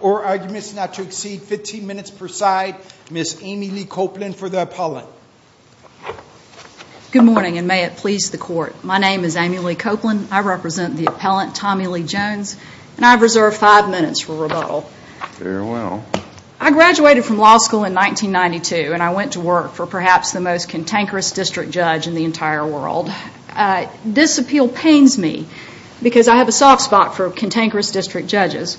or arguments not to exceed 15 minutes per side, Ms. Amy Lee Copeland for the appellant. Good morning and may it please the court. My name is Amy Lee Copeland. I represent the appellant Tommy Lee Jones and I reserve five minutes for rebuttal. I graduated from law school and I'm a cantankerous district judge in the entire world. This appeal pains me because I have a soft spot for cantankerous district judges.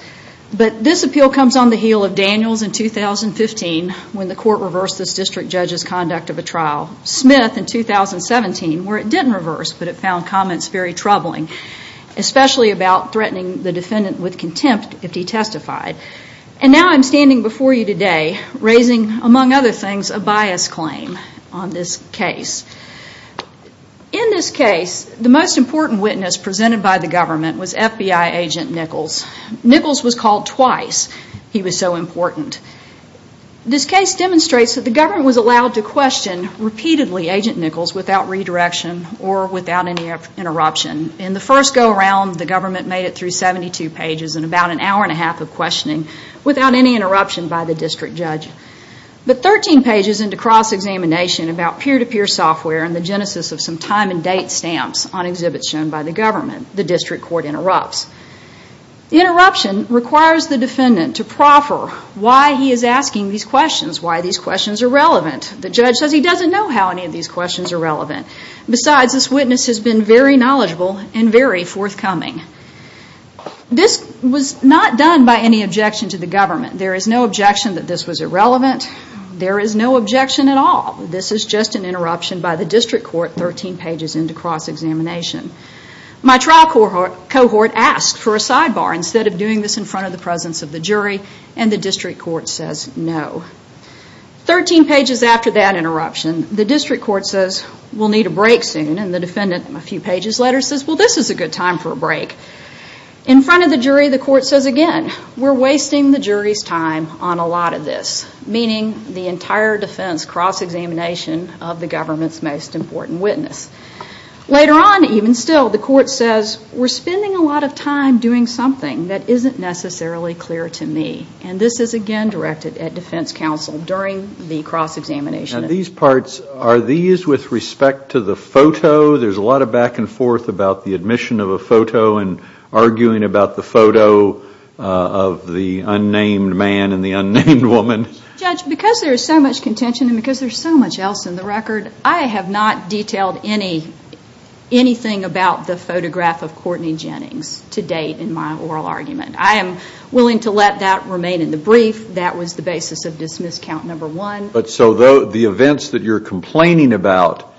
But this appeal comes on the heel of Daniels in 2015 when the court reversed this district judge's conduct of a trial. Smith in 2017 where it didn't reverse but it found comments very troubling, especially about threatening the defendant with contempt if he testified. And now I'm standing before you today raising among other things a bias claim on this case. In this case the most important witness presented by the government was FBI agent Nichols. Nichols was called twice, he was so important. This case demonstrates that the government was allowed to question repeatedly agent Nichols without redirection or without any interruption. In the first go around the government made it through 72 pages in about an hour and a half of questioning without any interruption by the district judge. But 13 pages into cross-examination about peer-to-peer software and the genesis of some time and date stamps on exhibits shown by the government, the district court interrupts. Interruption requires the defendant to proffer why he is asking these questions, why these questions are relevant. The judge says he doesn't know how any of these questions are relevant. Besides, this witness has been very knowledgeable and very forthcoming. This was not done by any objection to the government. There is no objection that this was irrelevant. There is no objection at all. This is just an interruption by the district court 13 pages into cross-examination. My trial cohort asked for a sidebar instead of doing this in front of the presence of the jury and the district court says no. 13 pages after that interruption the district court says we'll need a break soon and the defendant a few pages later says well this is a good time for a break. In front of the jury the court says again we're wasting the jury's time on a lot of this, meaning the entire defense cross-examination of the government's most important witness. Later on even still the court says we're spending a lot of time doing something that isn't necessarily clear to me and this is again directed at defense counsel during the cross-examination. And these parts, are these with respect to the photo? There's a lot of back and forth about the admission of a photo and arguing about the photo of the unnamed man and the unnamed woman. Judge, because there's so much contention and because there's so much else in the record, I have not detailed anything about the photograph of Courtney Jennings to date in my oral argument. I am willing to let that remain in the brief. That was the basis of dismiss count number one. But so the events that you're complaining about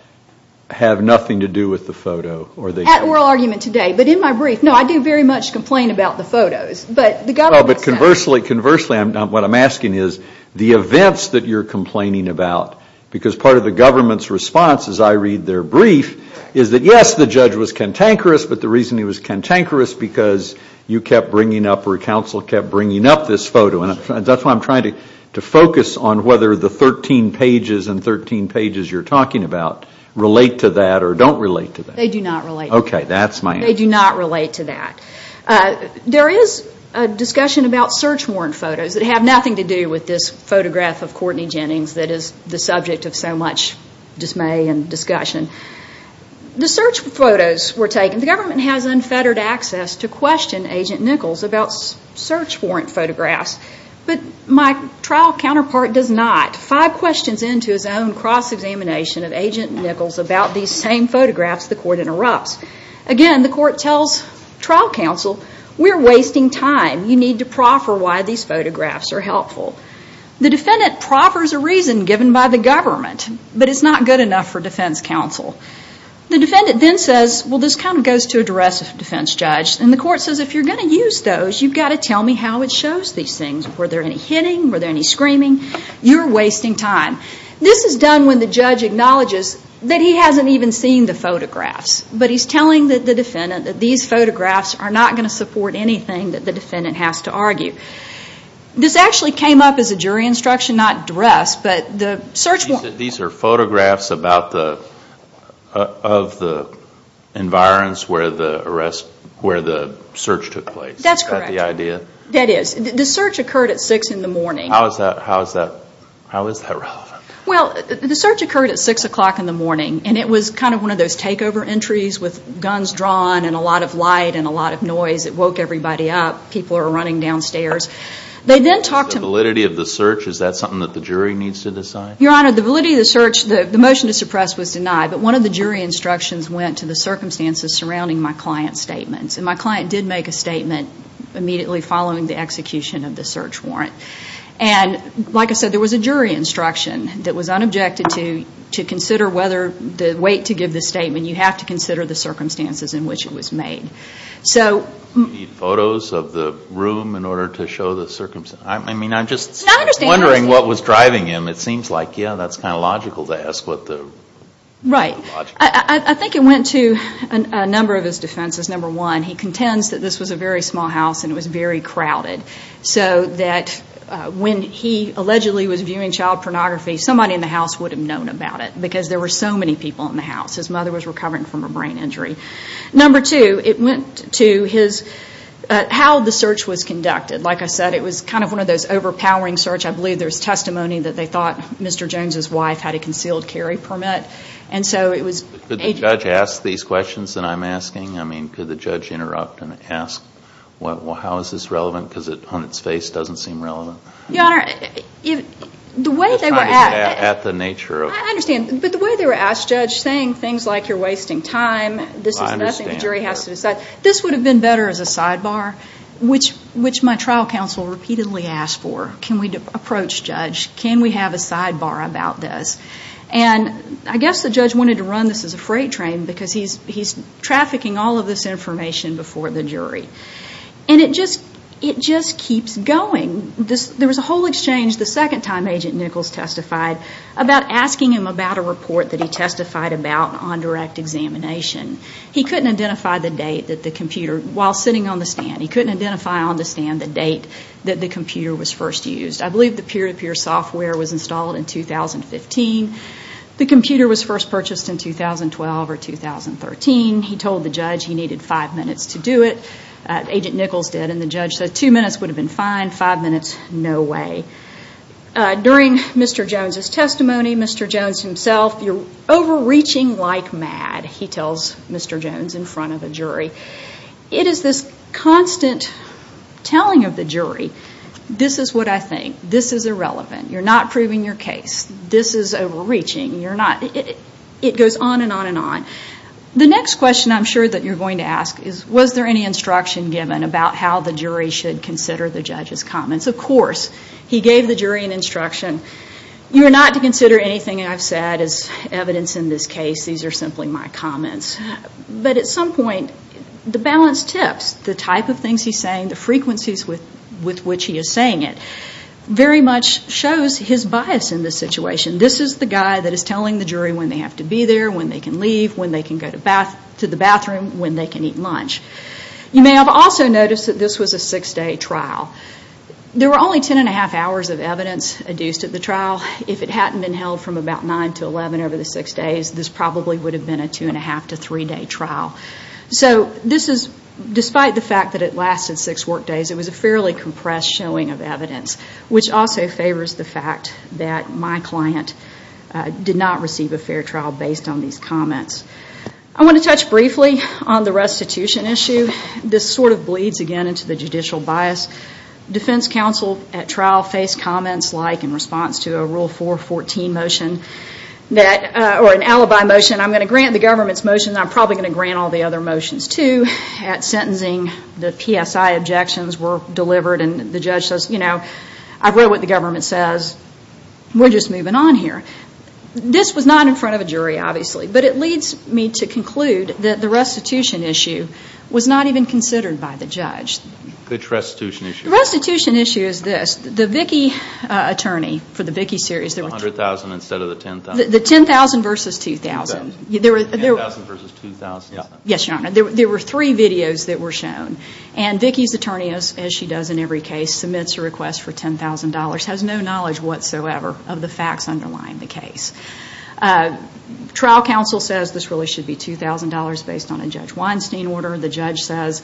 have nothing to do with the photo? At oral argument today. But in my brief, no, I do very much complain about the photos. But the government... But conversely, what I'm asking is the events that you're complaining about, because part of the government's response as I read their brief is that yes, the judge was cantankerous because you kept bringing up or counsel kept bringing up this photo. That's why I'm trying to focus on whether the 13 pages and 13 pages you're talking about relate to that or don't relate to that. They do not relate to that. Okay, that's my answer. They do not relate to that. There is a discussion about search warrant photos that have nothing to do with this photograph of Courtney Jennings that is the subject of so much dismay and discussion. The search photos were taken. The government has unfettered access to question Agent Nichols about search warrant photographs. But my trial counterpart does not. Five questions into his own cross-examination of Agent Nichols about these same photographs, the court interrupts. Again, the court tells trial counsel, we're wasting time. You need to proffer why these photographs are helpful. The defendant proffers a reason given by the government, but it's not good enough for defense counsel. The defendant then says, well, this kind of goes to address a defense judge. And the court says, if you're going to use those, you've got to tell me how it shows these things. Were there any hitting? Were there any screaming? You're wasting time. This is done when the judge acknowledges that he hasn't even seen the photographs. But he's telling the defendant that these photographs are not going to support anything that the defendant has to argue. This actually came up as a jury instruction, not dress. These are photographs of the environs where the search took place. That's correct. Is that the idea? That is. The search occurred at 6 in the morning. How is that relevant? Well, the search occurred at 6 o'clock in the morning, and it was kind of one of those takeover entries with guns drawn and a lot of light and a lot of noise. It woke everybody up. People are running downstairs. The validity of the search, is that something that the jury needs to decide? Your Honor, the validity of the search, the motion to suppress was denied. But one of the jury instructions went to the circumstances surrounding my client's statements. And my client did make a statement immediately following the execution of the search warrant. And, like I said, there was a jury instruction that was unobjected to consider whether the weight to give the statement, you have to consider the circumstances in which it was made. Do you need photos of the room in order to show the circumstances? I mean, I'm just wondering what was driving him. It seems like, yeah, that's kind of logical to ask. Right. I think it went to a number of his defenses. Number one, he contends that this was a very small house and it was very crowded. So that when he allegedly was viewing child pornography, somebody in the house would have known about it because there were so many people in the house. His mother was recovering from a brain injury. Number two, it went to his, how the search was conducted. Like I said, it was kind of one of those overpowering search. I believe there's testimony that they thought Mr. Jones' wife had a concealed carry permit. And so it was. Could the judge ask these questions that I'm asking? I mean, could the judge interrupt and ask, how is this relevant? Because it, on its face, doesn't seem relevant. Your Honor, the way they were. At the nature of. I understand. But the way they were asked, Judge, saying things like you're wasting time. I understand. This is nothing the jury has to decide. This would have been better as a sidebar, which my trial counsel repeatedly asked for. Can we approach, Judge? Can we have a sidebar about this? And I guess the judge wanted to run this as a freight train because he's trafficking all of this information before the jury. And it just keeps going. There was a whole exchange the second time Agent Nichols testified about asking him about a report that he testified about on direct examination. He couldn't identify the date that the computer, while sitting on the stand, he couldn't identify on the stand the date that the computer was first used. I believe the peer-to-peer software was installed in 2015. The computer was first purchased in 2012 or 2013. He told the judge he needed five minutes to do it. Agent Nichols did. And the judge said two minutes would have been fine. Five minutes, no way. During Mr. Jones' testimony, Mr. Jones himself, you're overreaching like mad, he tells Mr. Jones in front of the jury. It is this constant telling of the jury, this is what I think. This is irrelevant. You're not proving your case. This is overreaching. You're not. It goes on and on and on. The next question I'm sure that you're going to ask is, was there any instruction given about how the jury should consider the judge's comments? Of course. He gave the jury an instruction. You are not to consider anything I've said as evidence in this case. These are simply my comments. But at some point, the balanced tips, the type of things he's saying, the frequencies with which he is saying it, very much shows his bias in this situation. This is the guy that is telling the jury when they have to be there, when they can leave, when they can go to the bathroom, when they can eat lunch. You may have also noticed that this was a six-day trial. There were only 10 1⁄2 hours of evidence adduced at the trial. If it hadn't been held from about 9 to 11 over the six days, this probably would have been a 2 1⁄2 to three-day trial. Despite the fact that it lasted six workdays, it was a fairly compressed showing of evidence, which also favors the fact that my client did not receive a fair trial based on these comments. I want to touch briefly on the restitution issue. This sort of bleeds again into the judicial bias. Defense counsel at trial faced comments like, in response to a Rule 414 motion or an alibi motion, I'm going to grant the government's motion and I'm probably going to grant all the other motions, too. At sentencing, the PSI objections were delivered and the judge says, you know, I've read what the government says. We're just moving on here. This was not in front of a jury, obviously. But it leads me to conclude that the restitution issue was not even considered by the judge. Which restitution issue? The restitution issue is this. The Vickie attorney for the Vickie series. The $100,000 instead of the $10,000? The $10,000 versus $2,000. $10,000 versus $2,000. Yes, Your Honor. There were three videos that were shown. And Vickie's attorney, as she does in every case, submits a request for $10,000, has no knowledge whatsoever of the facts underlying the case. Trial counsel says this really should be $2,000 based on a Judge Weinstein order. The judge says,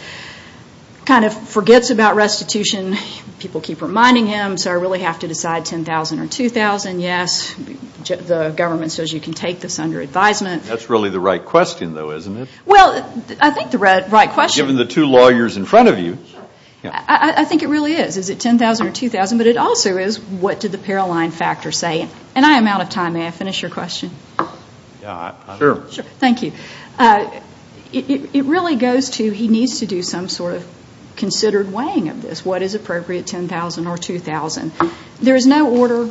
kind of forgets about restitution. People keep reminding him, so I really have to decide $10,000 or $2,000. Yes, the government says you can take this under advisement. That's really the right question, though, isn't it? Well, I think the right question. Given the two lawyers in front of you. I think it really is. Is it $10,000 or $2,000? But it also is what did the Paroline factor say? And I am out of time. May I finish your question? Sure. Thank you. It really goes to he needs to do some sort of considered weighing of this. What is appropriate, $10,000 or $2,000? There is no order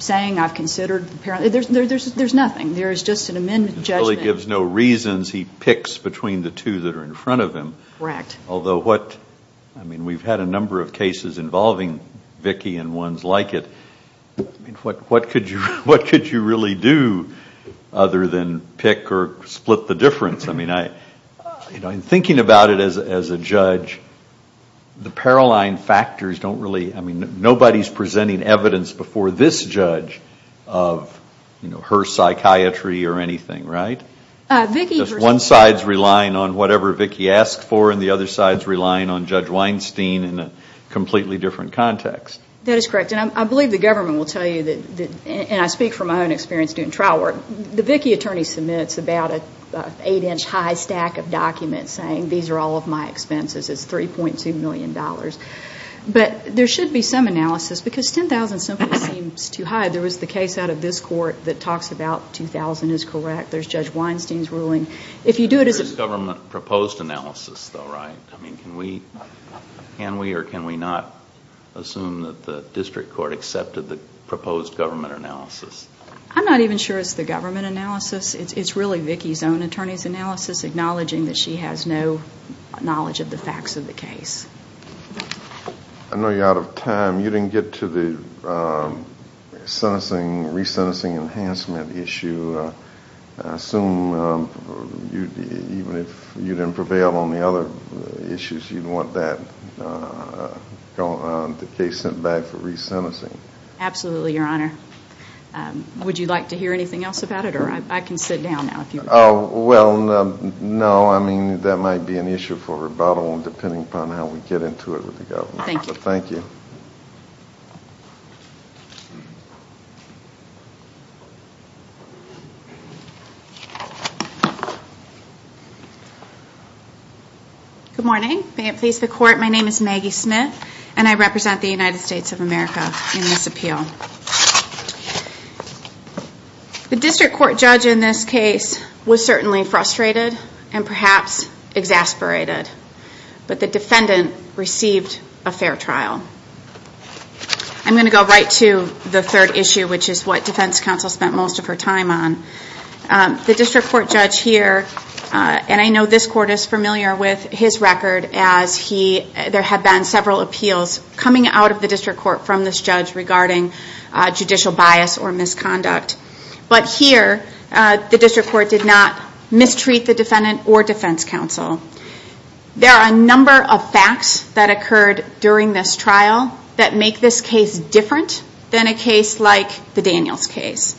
saying I've considered. There's nothing. There is just an amendment. It really gives no reasons. He picks between the two that are in front of him. Correct. Although what, I mean, we've had a number of cases involving Vicki and ones like it. What could you really do other than pick or split the difference? I mean, in thinking about it as a judge, the Paroline factors don't really, I mean, nobody is presenting evidence before this judge of her psychiatry or anything, right? Vicki. Because one side is relying on whatever Vicki asked for and the other side is relying on Judge Weinstein in a completely different context. That is correct. And I believe the government will tell you that, and I speak from my own experience doing trial work, the Vicki attorney submits about an eight-inch high stack of documents saying these are all of my expenses. It's $3.2 million. But there should be some analysis because $10,000 simply seems too high. There was the case out of this court that talks about $2,000 is correct. There's Judge Weinstein's ruling. There is government proposed analysis though, right? I mean, can we or can we not assume that the district court accepted the proposed government analysis? I'm not even sure it's the government analysis. It's really Vicki's own attorney's analysis, acknowledging that she has no knowledge of the facts of the case. I know you're out of time. You didn't get to the resentencing enhancement issue. I assume even if you didn't prevail on the other issues, you'd want the case sent back for resentencing. Absolutely, Your Honor. Would you like to hear anything else about it? I can sit down now if you would. Well, no. I mean, that might be an issue for rebuttal depending upon how we get into it with the government. Thank you. Thank you. Good morning. May it please the Court, my name is Maggie Smith, and I represent the United States of America in this appeal. The district court judge in this case was certainly frustrated and perhaps exasperated. But the defendant received a fair trial. I'm going to go right to the third issue, which is what defense counsel spent most of her time on. The district court judge here, and I know this court is familiar with his record, as there have been several appeals coming out of the district court from this judge regarding judicial bias or misconduct. But here, the district court did not mistreat the defendant or defense counsel. There are a number of facts that occurred during this trial that make this case different than a case like the Daniels case.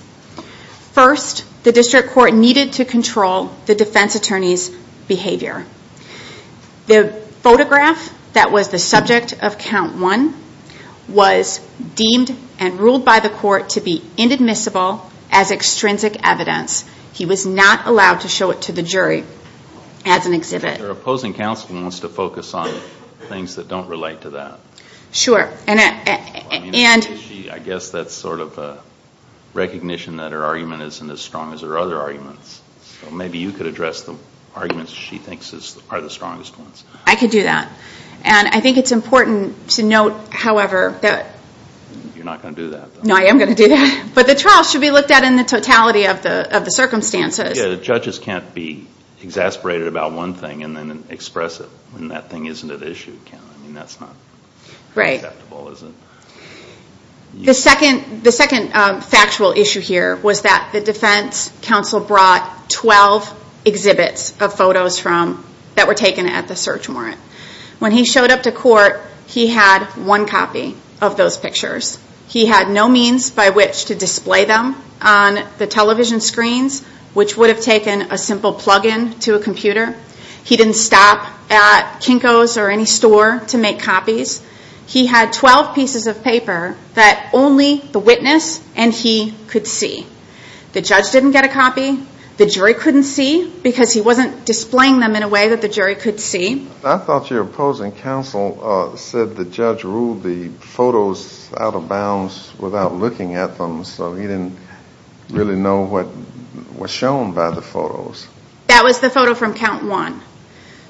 First, the district court needed to control the defense attorney's behavior. The photograph that was the subject of count one was deemed and ruled by the court to be inadmissible as extrinsic evidence. He was not allowed to show it to the jury as an exhibit. Your opposing counsel wants to focus on things that don't relate to that. Sure. I guess that's sort of a recognition that her argument isn't as strong as her other arguments. So maybe you could address the arguments she thinks are the strongest ones. I could do that. And I think it's important to note, however, that... You're not going to do that, though. No, I am going to do that. But the trial should be looked at in the totality of the circumstances. Yeah, the judges can't be exasperated about one thing and then express it when that thing isn't at issue. I mean, that's not acceptable, is it? The second factual issue here was that the defense counsel brought 12 exhibits of photos that were taken at the search warrant. When he showed up to court, he had one copy of those pictures. He had no means by which to display them on the television screens, which would have taken a simple plug-in to a computer. He didn't stop at Kinko's or any store to make copies. He had 12 pieces of paper that only the witness and he could see. The judge didn't get a copy. The jury couldn't see because he wasn't displaying them in a way that the jury could see. I thought your opposing counsel said the judge ruled the photos out of bounds without looking at them, so he didn't really know what was shown by the photos. That was the photo from Count 1.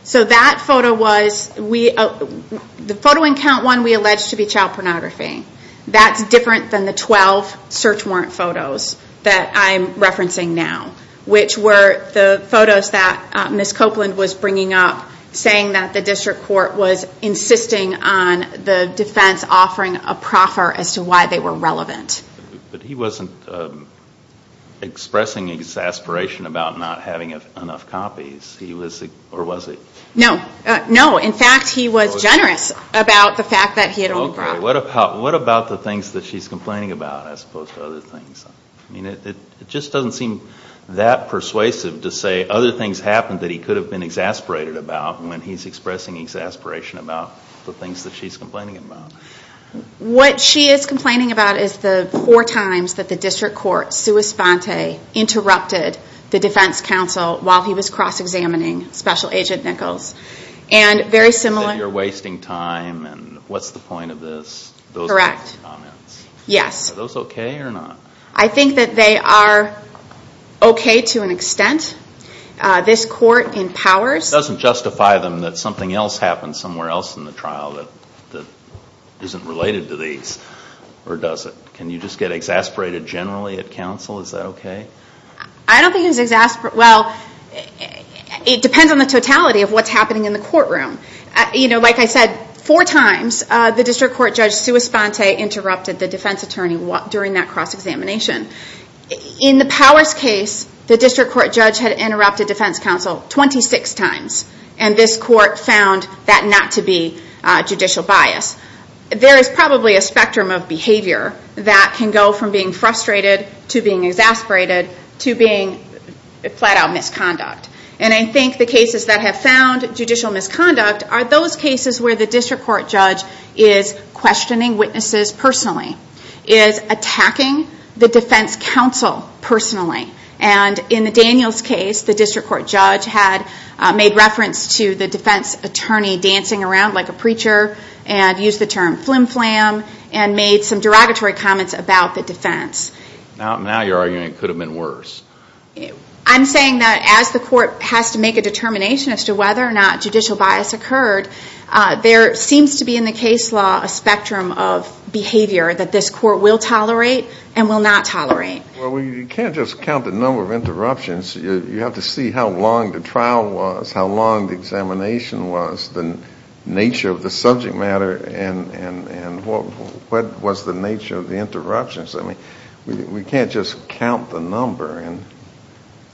So that photo was... The photo in Count 1 we alleged to be child pornography. That's different than the 12 search warrant photos that I'm referencing now, which were the photos that Ms. Copeland was bringing up, saying that the district court was insisting on the defense offering a proffer as to why they were relevant. But he wasn't expressing exasperation about not having enough copies, or was he? No, no. What about the things that she's complaining about as opposed to other things? It just doesn't seem that persuasive to say other things happened that he could have been exasperated about when he's expressing exasperation about the things that she's complaining about. What she is complaining about is the four times that the district court, sua sponte, interrupted the defense counsel while he was cross-examining Special Agent Nichols. That you're wasting time and what's the point of this? Correct. Are those okay or not? I think that they are okay to an extent. This court in Powers... It doesn't justify them that something else happened somewhere else in the trial that isn't related to these, or does it? Can you just get exasperated generally at counsel? Is that okay? I don't think he's exasperated... It depends on the totality of what's happening in the courtroom. Like I said, four times the district court judge, sua sponte, interrupted the defense attorney during that cross-examination. In the Powers case, the district court judge had interrupted defense counsel 26 times, and this court found that not to be judicial bias. There is probably a spectrum of behavior that can go from being frustrated to being exasperated to being flat-out misconduct. I think the cases that have found judicial misconduct are those cases where the district court judge is questioning witnesses personally, is attacking the defense counsel personally. In the Daniels case, the district court judge had made reference to the defense attorney dancing around like a preacher and used the term flim-flam and made some derogatory comments about the defense. Now you're arguing it could have been worse. I'm saying that as the court has to make a determination as to whether or not judicial bias occurred, there seems to be in the case law a spectrum of behavior that this court will tolerate and will not tolerate. Well, you can't just count the number of interruptions. You have to see how long the trial was, how long the examination was, the nature of the subject matter, and what was the nature of the interruptions. I mean, we can't just count the number.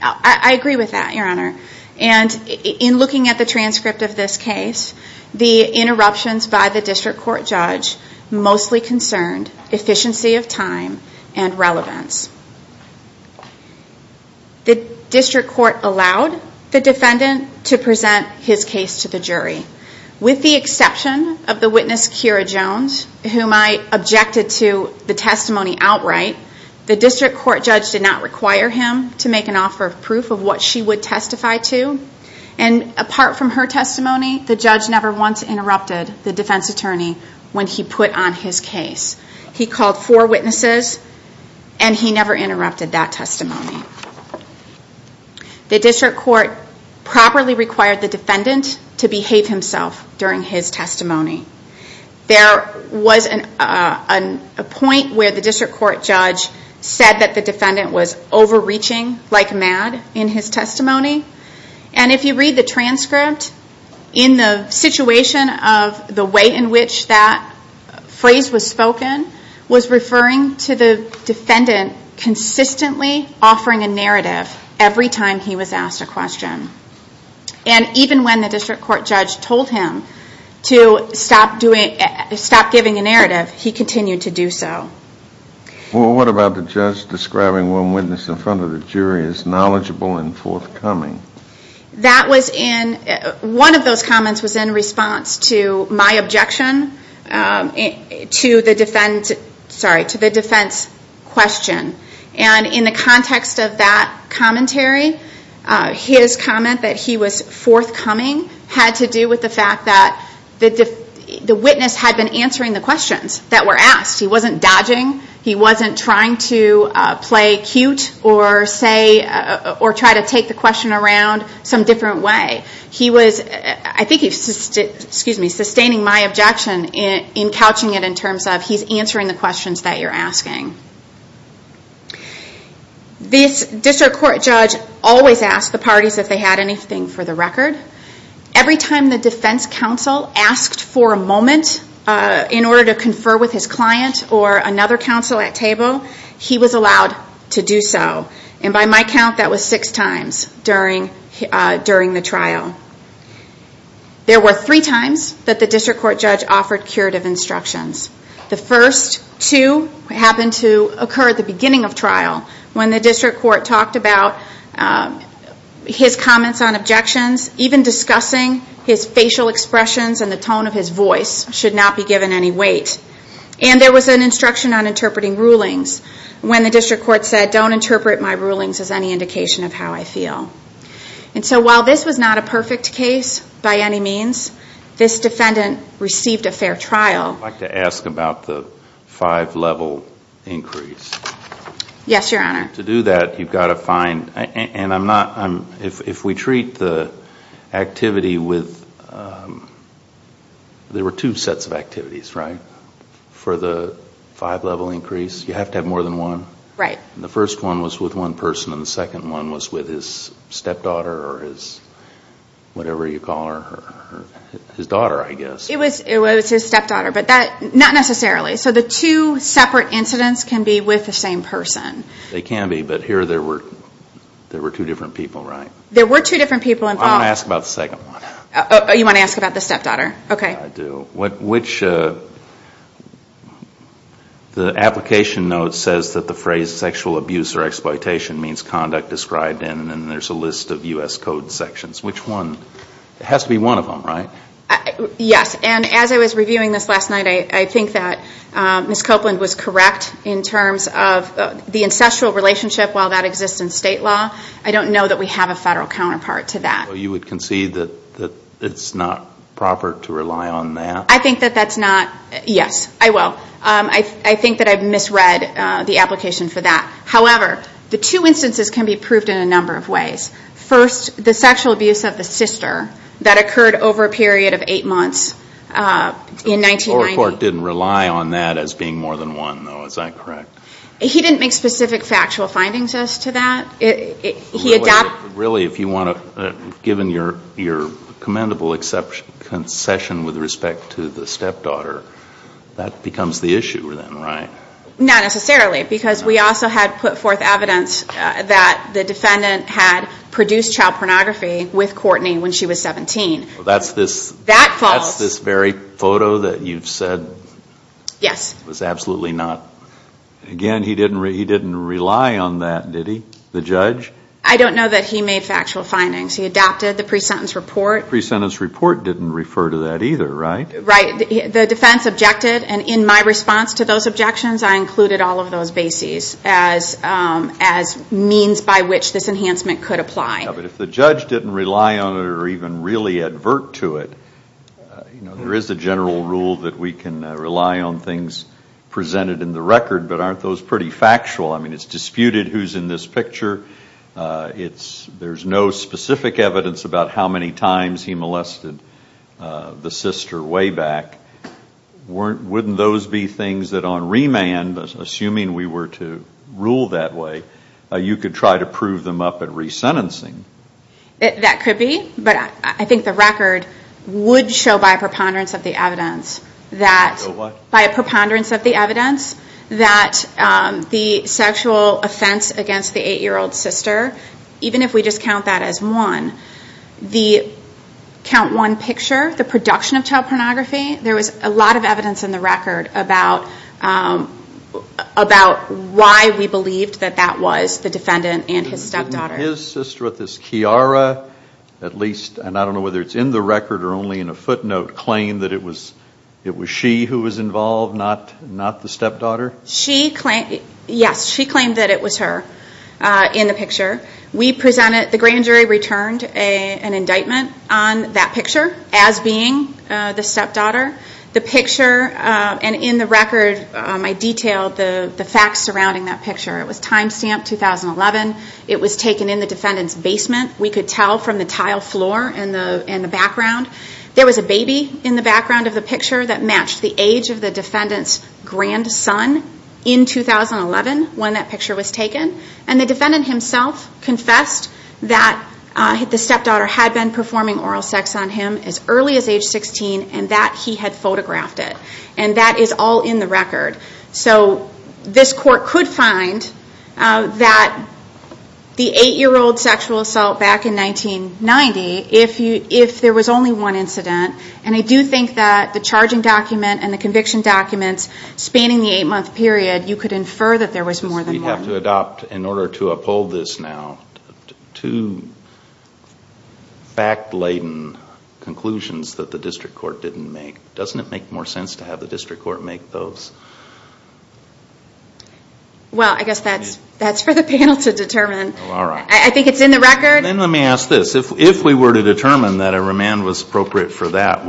I agree with that, Your Honor. And in looking at the transcript of this case, the interruptions by the district court judge mostly concerned efficiency of time and relevance. The district court allowed the defendant to present his case to the jury. With the exception of the witness, Keira Jones, whom I objected to the testimony outright, the district court judge did not require him to make an offer of proof of what she would testify to. And apart from her testimony, the judge never once interrupted the defense attorney when he put on his case. He called four witnesses, and he never interrupted that testimony. The district court properly required the defendant to behave himself during his testimony. There was a point where the district court judge said that the defendant was overreaching like mad in his testimony. And if you read the transcript, in the situation of the way in which that phrase was spoken, was referring to the defendant consistently offering a narrative every time he was asked a question. And even when the district court judge told him to stop giving a narrative, he continued to do so. Well, what about the judge describing one witness in front of the jury as knowledgeable and forthcoming? That was in, one of those comments was in response to my objection to the defense, sorry, to the defense question. And in the context of that commentary, his comment that he was forthcoming had to do with the fact that the witness had been answering the questions that were asked. He wasn't dodging, he wasn't trying to play cute or say, or try to take the question around some different way. He was, I think he, excuse me, sustaining my objection in couching it in terms of he's answering the questions that you're asking. This district court judge always asked the parties if they had anything for the record. Every time the defense counsel asked for a moment in order to confer with his client or another counsel at table, he was allowed to do so. And by my count, that was six times during the trial. There were three times that the district court judge offered curative instructions. The first two happened to occur at the beginning of trial when the district court talked about his comments on objections, even discussing his facial expressions and the tone of his voice should not be given any weight. And there was an instruction on interpreting rulings when the district court said, don't interpret my rulings as any indication of how I feel. And so while this was not a perfect case by any means, this defendant received a fair trial. I'd like to ask about the five-level increase. Yes, Your Honor. To do that, you've got to find, and I'm not, if we treat the activity with, there were two sets of activities, right, for the five-level increase? You have to have more than one? Right. And the first one was with one person and the second one was with his stepdaughter or his whatever you call her, his daughter, I guess. It was his stepdaughter, but not necessarily. So the two separate incidents can be with the same person. They can be, but here there were two different people, right? There were two different people involved. I want to ask about the second one. You want to ask about the stepdaughter? Okay. I do. The application note says that the phrase sexual abuse or exploitation means conduct described in, and there's a list of U.S. code sections. Which one? It has to be one of them, right? Yes. And as I was reviewing this last night, I think that Ms. Copeland was correct in terms of the incestual relationship while that exists in state law. I don't know that we have a federal counterpart to that. So you would concede that it's not proper to rely on that? I think that that's not, yes, I will. I think that I've misread the application for that. First, the sexual abuse of the sister that occurred over a period of eight months in 1990. The lower court didn't rely on that as being more than one, though, is that correct? He didn't make specific factual findings as to that. Really, if you want to, given your commendable concession with respect to the stepdaughter, that becomes the issue then, right? Not necessarily, because we also had put forth evidence that the defendant had produced child pornography with Courtney when she was 17. That's this very photo that you've said was absolutely not. Again, he didn't rely on that, did he, the judge? I don't know that he made factual findings. He adopted the pre-sentence report. The pre-sentence report didn't refer to that either, right? The defense objected, and in my response to those objections, I included all of those bases as means by which this enhancement could apply. But if the judge didn't rely on it or even really advert to it, there is a general rule that we can rely on things presented in the record, but aren't those pretty factual? I mean, it's disputed who's in this picture. There's no specific evidence about how many times he molested the sister way back. Wouldn't those be things that on remand, assuming we were to rule that way, you could try to prove them up at resentencing? That could be, but I think the record would show by a preponderance of the evidence that the sexual offense against the 8-year-old sister, even if we just count that as one, the count one picture, the production of child pornography, there was a lot of evidence in the record about why we believed that that was the defendant and his stepdaughter. His sister with his Chiara, at least, and I don't know whether it's in the record or only in a footnote, claimed that it was she who was involved, not the stepdaughter? Yes, she claimed that it was her in the picture. The grand jury returned an indictment on that picture as being the stepdaughter. The picture and in the record, I detailed the facts surrounding that picture. It was time stamped 2011. It was taken in the defendant's basement. We could tell from the tile floor and the background. There was a baby in the background of the picture that matched the age of the defendant's grandson in 2011 when that picture was taken. The defendant himself confessed that the stepdaughter had been performing oral sex on him as early as age 16 and that he had photographed it. That is all in the record. This court could find that the 8-year-old sexual assault back in 1990, if there was only one incident, and I do think that the charging document and the conviction documents spanning the 8-month period, you could infer that there was more than one. We have to adopt, in order to uphold this now, two fact-laden conclusions that the district court didn't make. Doesn't it make more sense to have the district court make those? Well, I guess that's for the panel to determine. All right. I think it's in the record. Then let me ask this. If we were to determine that a remand was appropriate for that,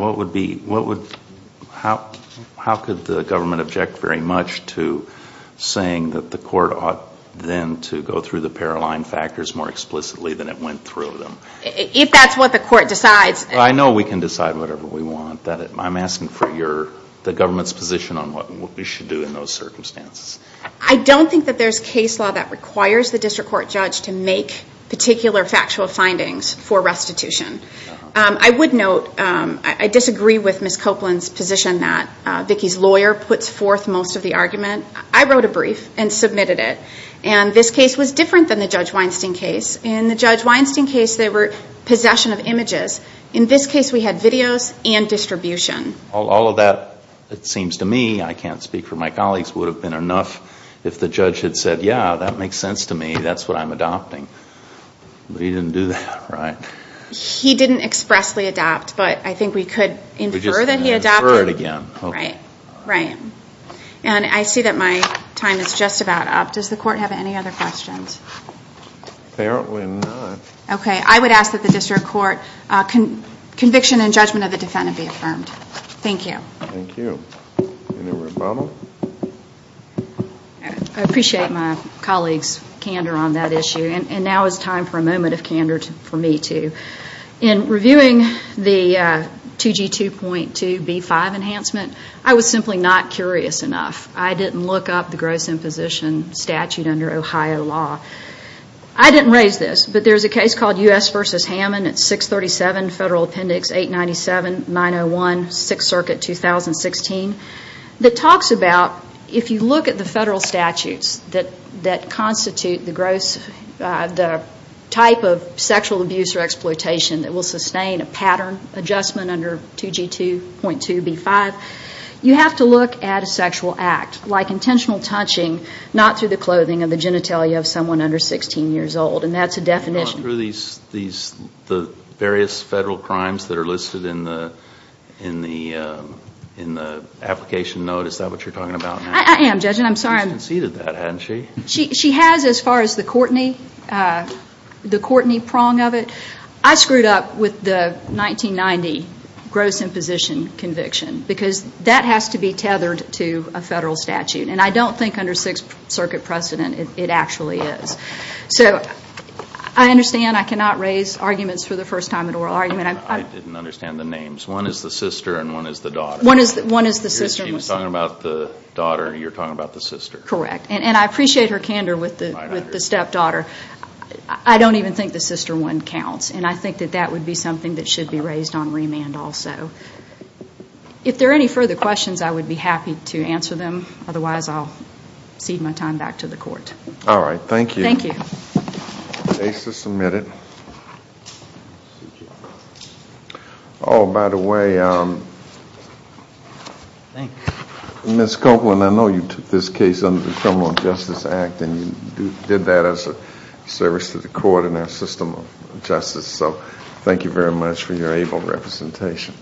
how could the government object very much to saying that the court ought then to go through the Paroline factors more explicitly than it went through them? If that's what the court decides. I know we can decide whatever we want. I'm asking for the government's position on what we should do in those circumstances. I don't think that there's case law that requires the district court judge to make particular factual findings for restitution. I would note I disagree with Ms. Copeland's position that Vicki's lawyer puts forth most of the argument. I wrote a brief and submitted it, and this case was different than the Judge Weinstein case. In the Judge Weinstein case, they were possession of images. In this case, we had videos and distribution. All of that, it seems to me, I can't speak for my colleagues, would have been enough if the judge had said, yeah, that makes sense to me. That's what I'm adopting. But he didn't do that, right? He didn't expressly adopt, but I think we could infer that he adopted. We just can't infer it again. Right. Right. And I see that my time is just about up. Does the court have any other questions? Apparently not. Okay. I would ask that the district court conviction and judgment of the defendant be affirmed. Thank you. Thank you. Any rebuttal? I appreciate my colleague's candor on that issue, and now is time for a moment of candor for me, too. In reviewing the 2G2.2B5 enhancement, I was simply not curious enough. I didn't look up the gross imposition statute under Ohio law. I didn't raise this, but there's a case called U.S. v. Hammond. It's 637 Federal Appendix 897-901, 6th Circuit, 2016, that talks about if you look at the federal statutes that constitute the gross, the type of sexual abuse or exploitation that will sustain a pattern adjustment under 2G2.2B5, you have to look at a sexual act, like intentional touching, not through the clothing or the genitalia of someone under 16 years old. And that's a definition. You're going through the various federal crimes that are listed in the application note? Is that what you're talking about now? I am, Judge, and I'm sorry. She's conceded that, hasn't she? She has as far as the Courtney prong of it. I screwed up with the 1990 gross imposition conviction because that has to be tethered to a federal statute. And I don't think under 6th Circuit precedent it actually is. So I understand I cannot raise arguments for the first time in oral argument. I didn't understand the names. One is the sister and one is the daughter. One is the sister. She was talking about the daughter and you're talking about the sister. Correct. And I appreciate her candor with the stepdaughter. I don't even think the sister one counts, and I think that that would be something that should be raised on remand also. If there are any further questions, I would be happy to answer them. Otherwise, I'll cede my time back to the court. All right. Thank you. Thank you. The case is submitted. Oh, by the way, Ms. Copeland, I know you took this case under the Criminal Justice Act and you did that as a service to the court and our system of justice. So thank you very much for your able representation.